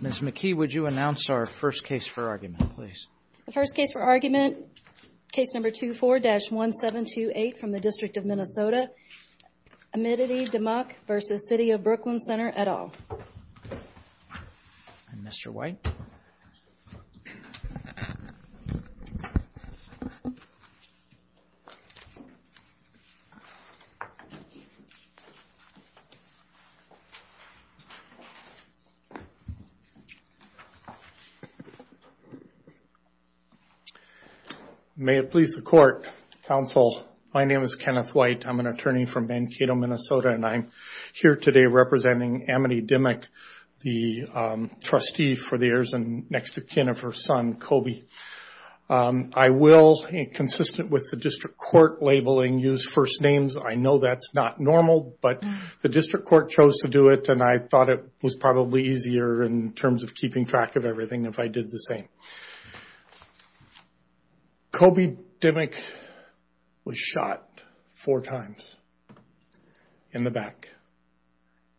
Ms. McKee, would you announce our first case for argument, please? The first case for argument, case number 24-1728 from the District of Minnesota, Amity Dimock v. City of Brooklyn Center, et al. And Mr. White? May it please the court, counsel, my name is Kenneth White. I'm an attorney from Mankato, Minnesota, and I'm here today representing Amity Dimock, the trustee for the heirs and next of kin of her son, Kobe. I will, consistent with the district court labeling, use first names. I know that's not normal, but the district court chose to do it and I thought it was probably easier in terms of keeping track of everything if I did the same. Kobe Dimock was shot four times in the back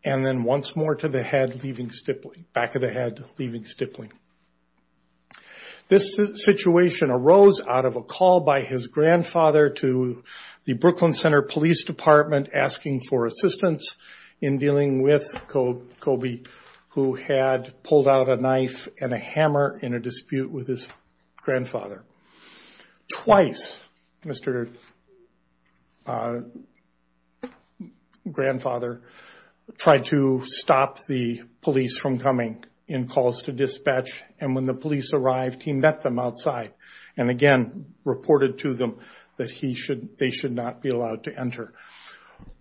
and then once more to the head, leaving stippling, back of the head, leaving stippling. This situation arose out of a call by his grandfather to the Brooklyn Center Police Department, asking for assistance in dealing with Kobe, who had pulled out a knife and a hammer in a dispute with his grandfather. Twice, Mr. grandfather tried to stop the police from coming in calls to dispatch. And when the police arrived, he met them outside and again reported to them that they should not be allowed to enter.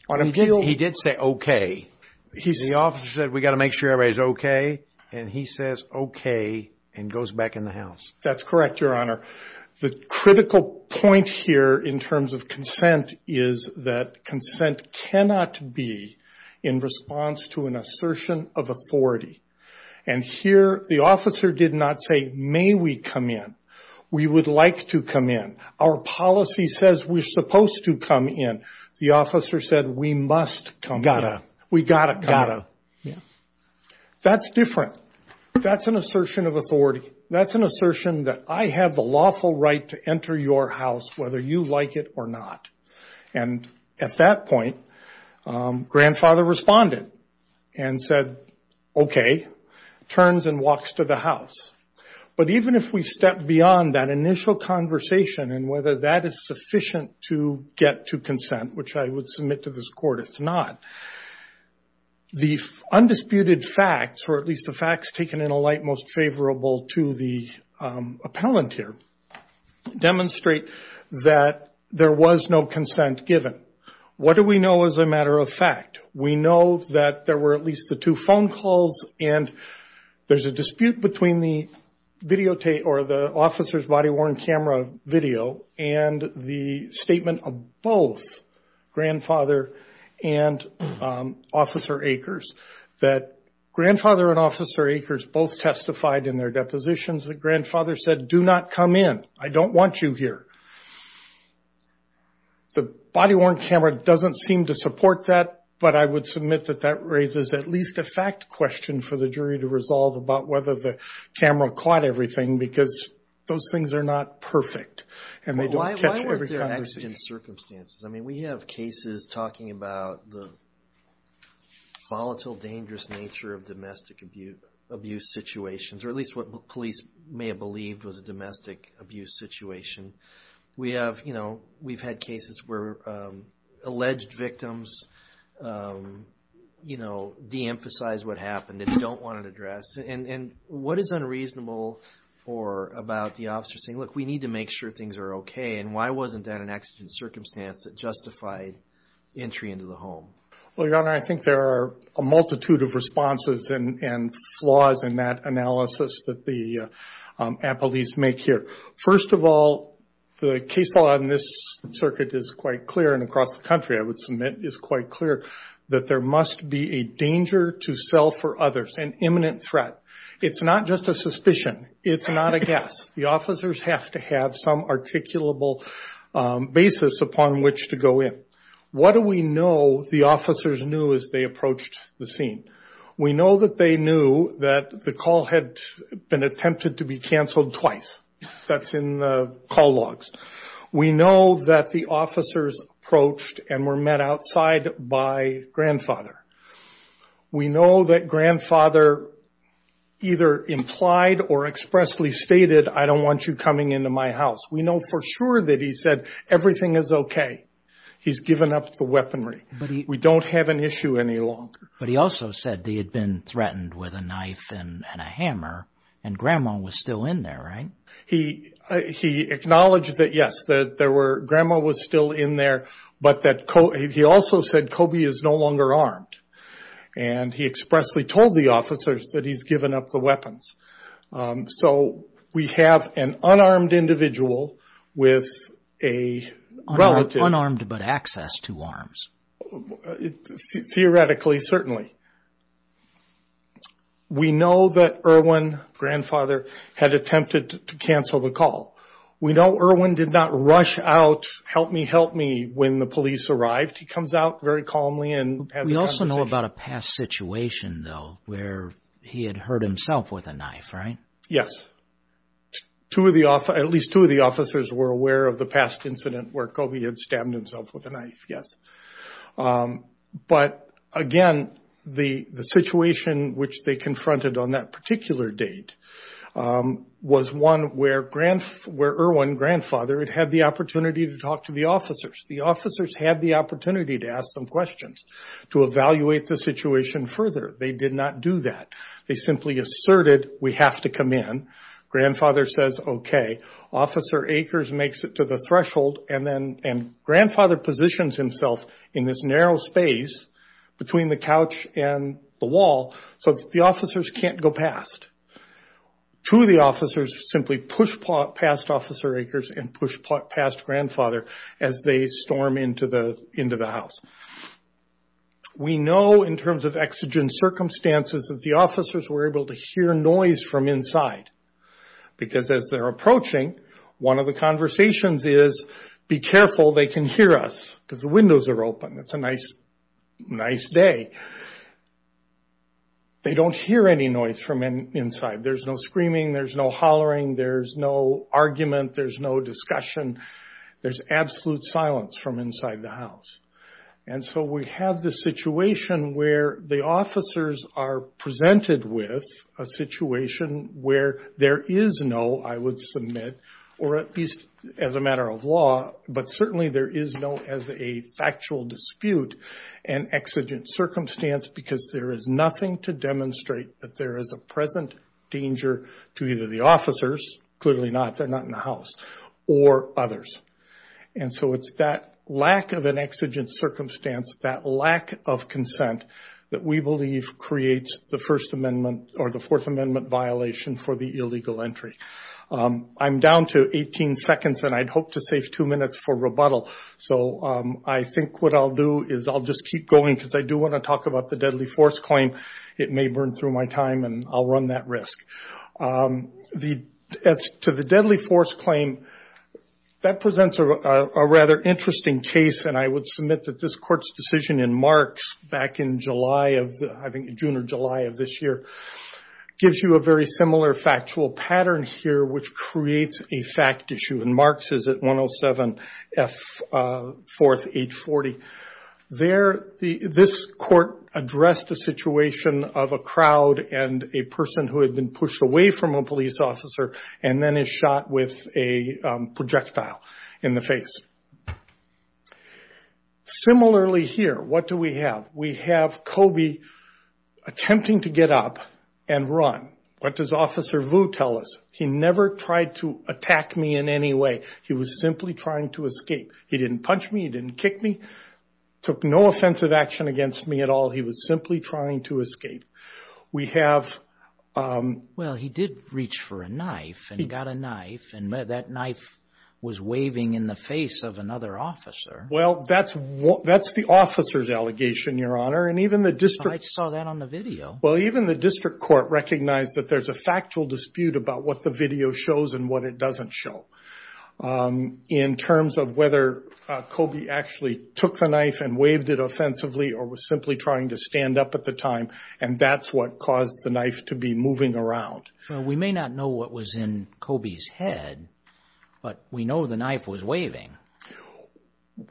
On appeal, he did say, okay, he's the officer that we got to make sure everybody's okay. And he says, okay, and goes back in the house. That's correct, your honor. The critical point here in terms of consent is that consent cannot be in response to an assertion of authority. And here the officer did not say, may we come in? We would like to come in. Our policy says we're supposed to come in. The officer said, we must come. We got to. Got to. That's different. That's an assertion of authority. That's an assertion that I have the lawful right to enter your house, whether you like it or not. And at that point, grandfather responded and said, okay, turns and walks to the house. But even if we step beyond that initial conversation and whether that is sufficient to get to consent, which I would submit to this court, it's not. The undisputed facts, or at least the facts taken in a light most favorable to the appellant here, demonstrate that there was no consent given. What do we know as a matter of fact? We know that there were at least the two phone calls and there's a dispute between the videotape or the officer's body worn camera video and the statement of both grandfather and officer Akers. That grandfather and officer Akers both testified in their depositions that grandfather said, do not come in. I don't want you here. The body worn camera doesn't seem to support that, but I would submit that that raises at least a fact question for the jury to resolve about whether the camera caught everything because those things are not perfect and they don't catch every conversation. Why weren't there accident circumstances? I mean, we have cases talking about the volatile, dangerous nature of domestic abuse situations, or at least what police may have believed was a domestic abuse situation. We have, you know, we've had cases where alleged victims, you know, de-emphasize what happened and don't want it addressed. And what is unreasonable about the officer saying, look, we need to make sure things are okay? And why wasn't that an accident circumstance that justified entry into the home? Well, your honor, I think there are a multitude of responses and flaws in that analysis that the appellees make here. First of all, the case law in this circuit is quite clear and across the country, I would submit, is quite clear that there must be a danger to self or others, an imminent threat. It's not just a suspicion. It's not a guess. The officers have to have some articulable basis upon which to go in. What do we know the officers knew as they approached the scene? We know that they knew that the call had been attempted to be canceled twice. That's in the call logs. We know that the officers approached and were met outside by grandfather. We know that grandfather either implied or expressly stated, I don't want you coming into my house. We know for sure that he said everything is OK. He's given up the weaponry. We don't have an issue any longer. But he also said they had been threatened with a knife and a hammer. And grandma was still in there, right? He he acknowledged that, yes, that there were grandma was still in there, but that he also said Kobe is no longer armed. And he expressly told the officers that he's given up the weapons. So we have an unarmed individual with a relative unarmed, but access to arms. Theoretically, certainly. We know that Irwin grandfather had attempted to cancel the call. We know Irwin did not rush out, help me, help me. When the police arrived, he comes out very calmly and we also know about a past situation, though, where he had hurt himself with a knife. Right. Yes. Two of the at least two of the officers were aware of the past incident where Kobe had stabbed himself with a knife. Yes. But again, I don't know that the officers knew. The situation which they confronted on that particular date was one where Irwin grandfather had had the opportunity to talk to the officers. The officers had the opportunity to ask some questions, to evaluate the situation further. They did not do that. They simply asserted, we have to come in. Grandfather says, OK, Officer Akers makes it to the threshold. And then grandfather positions himself in this narrow space between the couch and the wall so that the officers can't go past. Two of the officers simply push past Officer Akers and push past grandfather as they storm into the house. We know in terms of exigent circumstances that the officers were able to hear noise from inside. Because as they're approaching, one of the conversations is, be careful, they can hear us because the windows are open. It's a nice, nice day. They don't hear any noise from inside. There's no screaming. There's no hollering. There's no argument. There's no discussion. There's absolute silence from inside the house. And so we have this situation where the officers are presented with a situation where there is no, I would submit, or at least as a matter of law, but certainly there is no, as a factual dispute, an exigent circumstance because there is nothing to demonstrate that there is a present danger to either the officers, clearly not, they're not in the house, or others. And so it's that lack of an exigent circumstance, that lack of consent, that we believe creates the First Amendment or the Fourth Amendment violation for the illegal entry. I'm down to 18 seconds and I'd hope to save two minutes for rebuttal. So I think what I'll do is I'll just keep going because I do want to talk about the deadly force claim. It may burn through my time and I'll run that risk. As to the deadly force claim, that presents a rather interesting case and I would submit that this court's decision in Marks back in July of, I think June or July of this year, gives you a very similar factual pattern here which creates a fact issue. And Marks is at 107 F. 4th, 840. There, this court addressed the situation of a crowd and a person who had been pushed away from a police officer and then is shot with a projectile in the face. Similarly here, what do we have? We have Kobe attempting to get up and run. What does Officer Vu tell us? He never tried to attack me in any way. He was simply trying to escape. He didn't punch me. He didn't kick me. Took no offensive action against me at all. He was simply trying to escape. We have... Well, he did reach for a knife and got a knife and that knife was waving in the face of another officer. Well, that's the officer's allegation, Your Honor. And even the district... I saw that on the video. Well, even the district court recognized that there's a factual dispute about what the video shows and what it doesn't show. In terms of whether Kobe actually took the knife and waved it offensively or was simply trying to stand up at the time. And that's what caused the knife to be moving around. So we may not know what was in Kobe's head, but we know the knife was waving.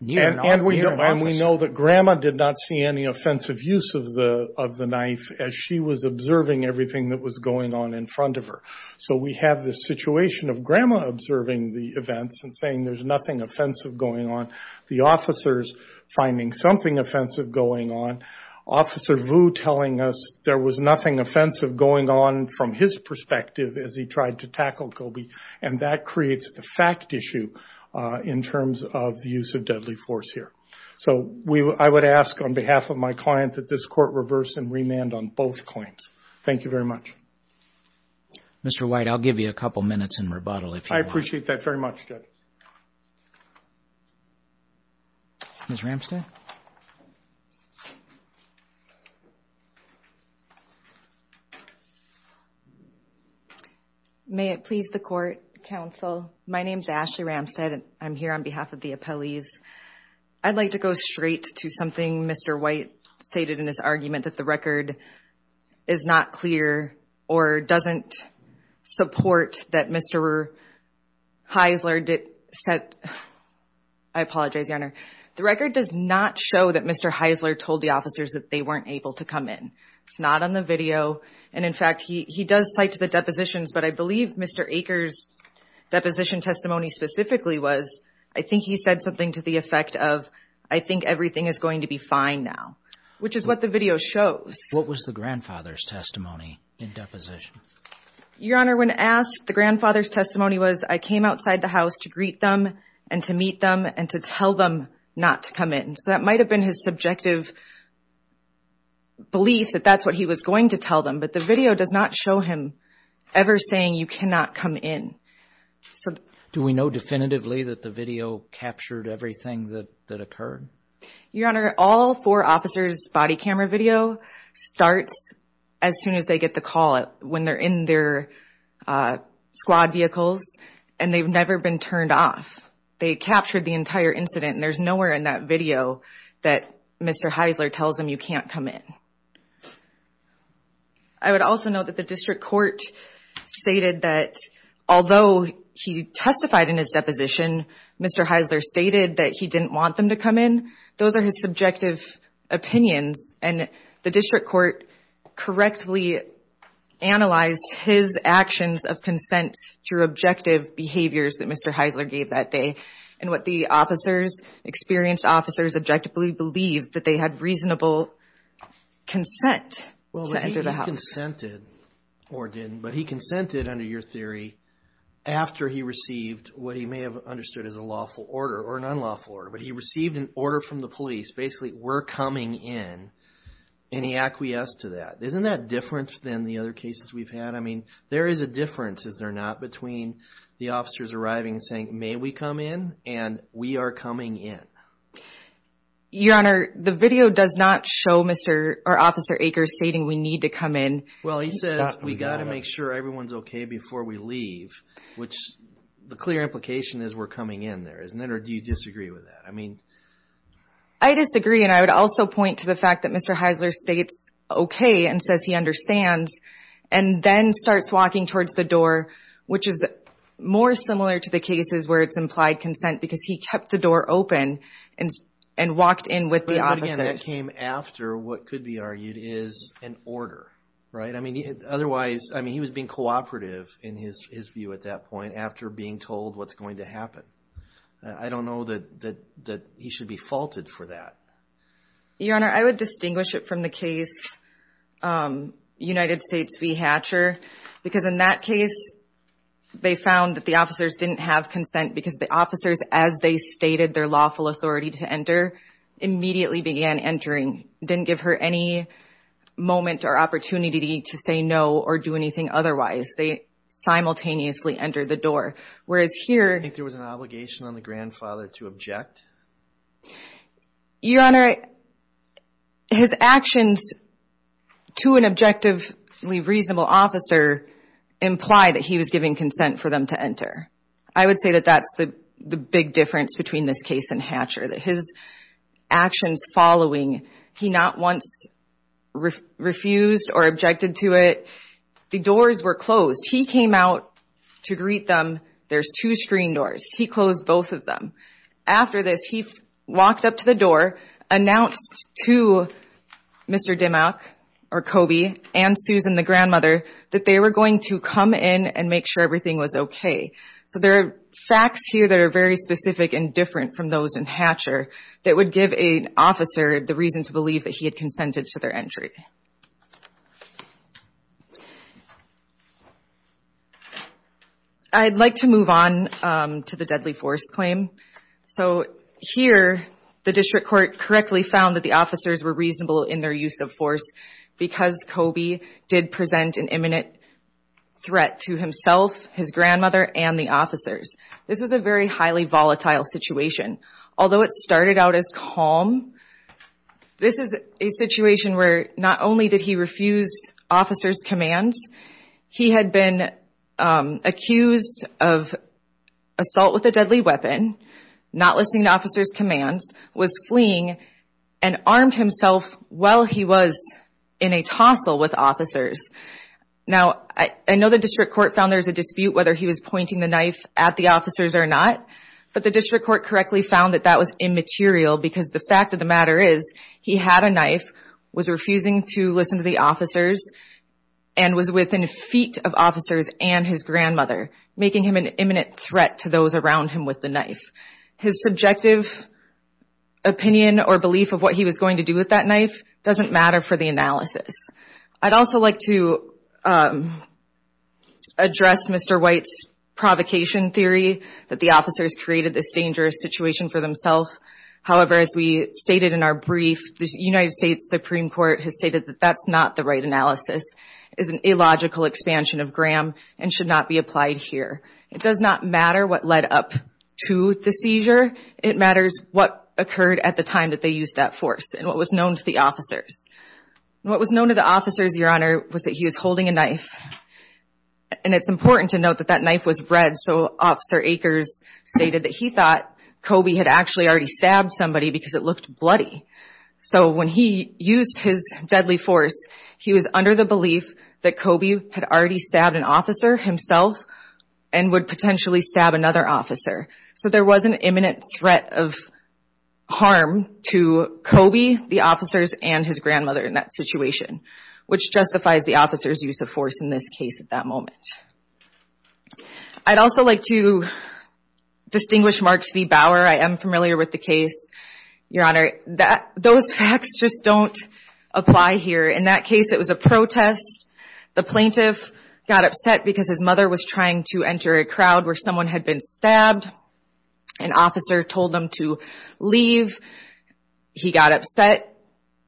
And we know that Grandma did not see any offensive use of the knife as she was observing everything that was going on in front of her. So we have this situation of Grandma observing the events and saying there's nothing offensive going on. The officer's finding something offensive going on. Officer Vu telling us there was nothing offensive going on from his perspective as he tried to tackle Kobe. And that creates the fact issue in terms of the use of deadly force here. So I would ask on behalf of my client that this court reverse and remand on both claims. Thank you very much. Mr. White, I'll give you a couple of minutes in rebuttal. I appreciate that very much, Judge. Ms. Ramstad. May it please the court, counsel. My name's Ashley Ramstad and I'm here on behalf of the appellees. I'd like to go straight to something Mr. White stated in his argument that the record is not clear or doesn't support that Mr. Heisler did set. I apologize, Your Honor. The record does not show that Mr. Heisler told the officers that they weren't able to come in. It's not on the video. And in fact, he does cite to the depositions. But I believe Mr. Aker's deposition testimony specifically was, I think he said something to the effect of, I think everything is going to be fine now. Which is what the video shows. What was the grandfather's testimony in deposition? Your Honor, when asked, the grandfather's testimony was, I came outside the house to greet them and to meet them and to tell them not to come in. So that might have been his subjective belief that that's what he was going to tell them. But the video does not show him ever saying you cannot come in. So do we know definitively that the video captured everything that that occurred? Your Honor, all four officers' body camera video starts as soon as they get the call. When they're in their squad vehicles and they've never been turned off. They captured the entire incident. And there's nowhere in that video that Mr. Heisler tells them you can't come in. I would also note that the district court stated that although he testified in his deposition, Mr. Heisler stated that he didn't want them to come in. Those are his subjective opinions. And the district court correctly analyzed his actions of consent through objective behaviors that Mr. Heisler gave that day. And what the officers, experienced officers, objectively believed that they had reasonable consent to enter the house. Well, he consented or didn't, but he consented under your theory after he received what he may have understood as a lawful order or an unlawful order. But he received an order from the police, basically, we're coming in and he acquiesced to that. Isn't that different than the other cases we've had? I mean, there is a difference, is there not, between the officers arriving and saying, may we come in? And we are coming in. Your Honor, the video does not show Mr. or Officer Akers stating we need to come in. Well, he says we got to make sure everyone's OK before we leave, which the clear implication is we're coming in there, isn't it? Or do you disagree with that? I mean, I disagree. And I would also point to the fact that Mr. Heisler states, OK, and says he understands and then starts walking towards the door, which is more similar to the cases where it's implied consent because he kept the door open and and walked in with the officer that came after what could be argued is an order. Right. I mean, otherwise, I mean, he was being cooperative in his his view at that point after being told what's going to happen. I don't know that that that he should be faulted for that. Your Honor, I would distinguish it from the case, United States v. Hatcher, because in that case, they found that the officers didn't have consent because the officers, as they stated, their lawful authority to enter immediately began entering. Didn't give her any moment or opportunity to say no or do anything otherwise. They simultaneously entered the door. Whereas here, I think there was an obligation on the grandfather to object. Your Honor, his actions to an objective, reasonable officer imply that he was giving consent for them to enter. I would say that that's the big difference between this case and Hatcher, that his actions following he not once refused or objected to it. The doors were closed. He came out to greet them. There's two screen doors. He closed both of them. After this, he walked up to the door, announced to Mr. Dimock or Kobe and Susan, the grandmother, that they were going to come in and make sure everything was OK. So there are facts here that are very specific and different from those in Hatcher that would give a officer the reason to believe that he had consented to their entry. I'd like to move on to the deadly force claim. So here, the district court correctly found that the officers were reasonable in their use of force because Kobe did present an imminent threat to himself, his grandmother and the officers. This was a very highly volatile situation, although it started out as calm. This is a situation where not only did he refuse officers commands. He had been accused of assault with a deadly weapon, not listening to officers commands, was fleeing and armed himself while he was in a tussle with officers. Now, I know the district court found there's a dispute whether he was pointing the knife at the officers or not, but the district court correctly found that that was immaterial because the fact of the matter is he had a knife, was refusing to listen to the officers and was within feet of officers and his grandmother, making him an imminent threat to those around him with the knife. His subjective opinion or belief of what he was going to do with that knife doesn't matter for the analysis. I'd also like to address Mr. White's provocation theory that the officers created this dangerous situation for themselves. However, as we stated in our brief, the United States Supreme Court has stated that that's not the right analysis, is an illogical expansion of Graham and should not be applied here. It does not matter what led up to the seizure. It matters what occurred at the time that they used that force and what was known to the officers. What was known to the officers, Your Honor, was that he was holding a knife. And it's important to note that that knife was red, so Officer Akers stated that he thought Kobe had actually already stabbed somebody because it looked bloody. So when he used his deadly force, he was under the belief that Kobe had already stabbed an officer himself and would potentially stab another officer. So there was an imminent threat of harm to Kobe, the officers, and his grandmother in that situation, which justifies the officer's use of force in this case at that moment. I'd also like to distinguish Marks v. Bauer. I am familiar with the case, Your Honor. Those facts just don't apply here. In that case, it was a protest. The plaintiff got upset because his mother was trying to enter a crowd where someone had been stabbed. An officer told them to leave. He got upset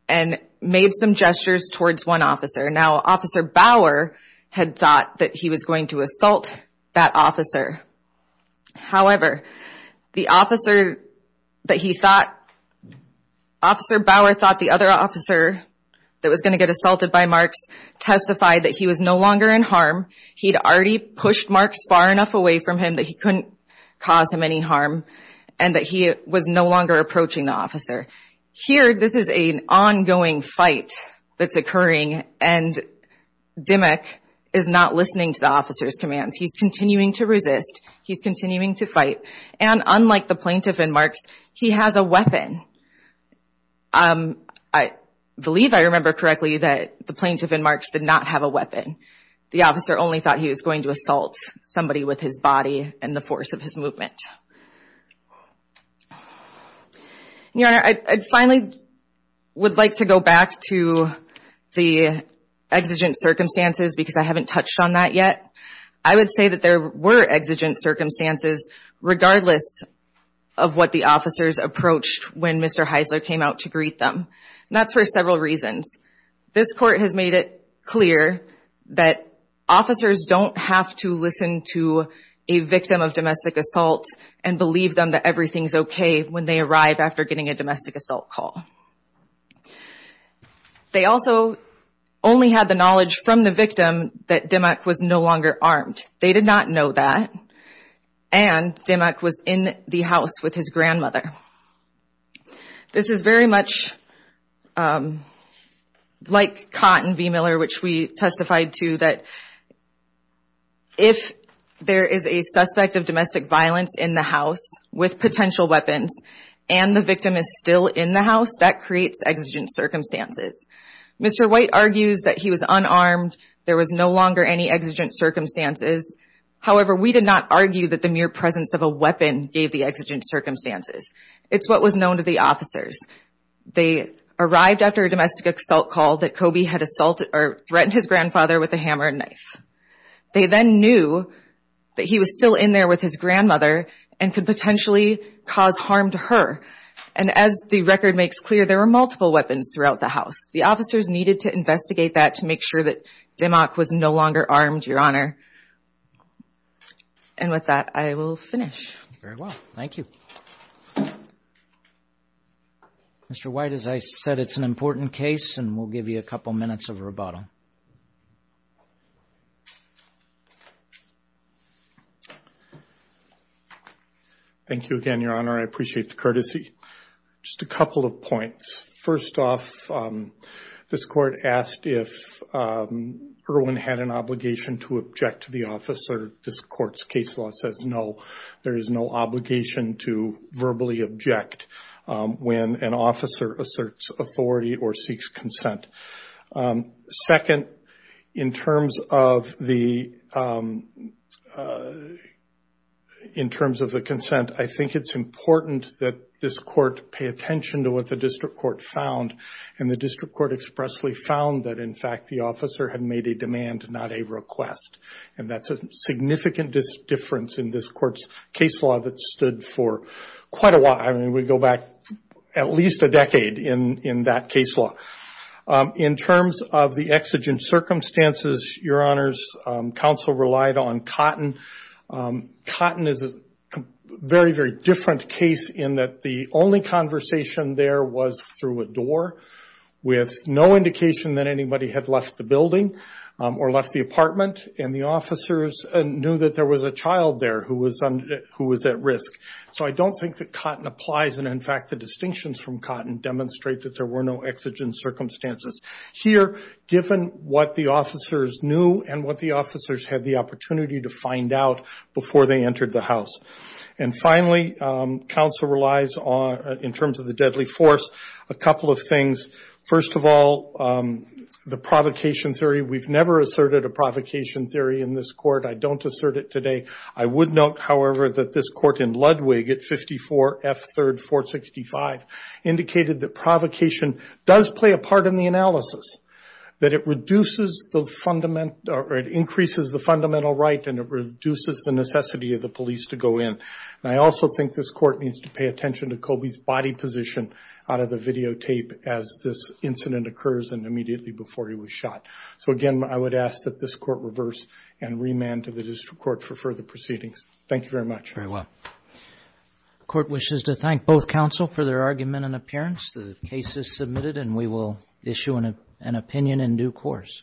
and made some gestures towards one officer. Now, Officer Bauer had thought that he was going to assault that officer. However, the officer that he thought, Officer Bauer thought the other officer that was going to get assaulted by Marks testified that he was no longer in harm. He'd already pushed Marks far enough away from him that he couldn't cause him any harm and that he was no longer approaching the officer. Here, this is an ongoing fight that's occurring and Dimmock is not listening to the officer's commands. He's continuing to resist. He's continuing to fight. And unlike the plaintiff and Marks, he has a weapon. I believe I remember correctly that the plaintiff and Marks did not have a weapon. The officer only thought he was going to assault somebody with his body and the force of his movement. Your Honor, I finally would like to go back to the exigent circumstances because I haven't touched on that yet. I would say that there were exigent circumstances regardless of what the officers approached when Mr. Heisler came out to greet them. And that's for several reasons. This court has made it clear that officers don't have to listen to a victim of domestic assault and believe them that everything's okay when they arrive after getting a domestic assault call. They also only had the knowledge from the victim that Dimmock was no longer armed. They did not know that. And Dimmock was in the house with his grandmother. This is very much like Cotton v. Miller, which we testified to that if there is a suspect of domestic violence in the house with potential weapons and the victim is still in the house, that creates exigent circumstances. Mr. White argues that he was unarmed. There was no longer any exigent circumstances. However, we did not argue that the mere presence of a weapon gave the exigent circumstances. It's what was known to the officers. They arrived after a domestic assault call that Kobe had assaulted or threatened his grandfather with a hammer and knife. They then knew that he was still in there with his grandmother and could potentially cause harm to her. And as the record makes clear, there were multiple weapons throughout the house. The officers needed to investigate that to make sure that Dimmock was no longer armed, Your Honor. And with that, I will finish. Very well. Thank you. Mr. White, as I said, it's an important case and we'll give you a couple minutes of rebuttal. Thank you again, Your Honor. I appreciate the courtesy. Just a couple of points. First off, this court asked if Irwin had an obligation to object to the officer. This court's case law says no. There is no obligation to verbally object when an officer asserts authority or seeks consent. Second, in terms of the consent, I think it's important that this court pay attention to what the district court found. And the district court expressly found that, in fact, the officer had made a demand, not a request. And that's a significant difference in this court's case law that stood for quite a while. I mean, we go back at least a decade in that case law. In terms of the exigent circumstances, Your Honors, counsel relied on Cotton. Cotton is a very, very different case in that the only conversation there was through a door, with no indication that anybody had left the building or left the apartment. And the officers knew that there was a child there who was at risk. So I don't think that Cotton applies. And, in fact, the distinctions from Cotton demonstrate that there were no exigent circumstances. Here, given what the officers knew and what the officers had the opportunity to find out before they entered the house. And, finally, counsel relies on, in terms of the deadly force, a couple of things. First of all, the provocation theory. We've never asserted a provocation theory in this court. I don't assert it today. I would note, however, that this court in Ludwig at 54 F3rd 465 indicated that provocation does play a part in the analysis. That it reduces the fundamental or it increases the fundamental right and it reduces the necessity of the police to go in. And I also think this court needs to pay attention to Colby's body position out of the videotape as this incident occurs and immediately before he was shot. So, again, I would ask that this court reverse and remand to the district court for further proceedings. Thank you very much. Very well. The court wishes to thank both counsel for their argument and appearance. The case is submitted and we will issue an opinion in due course.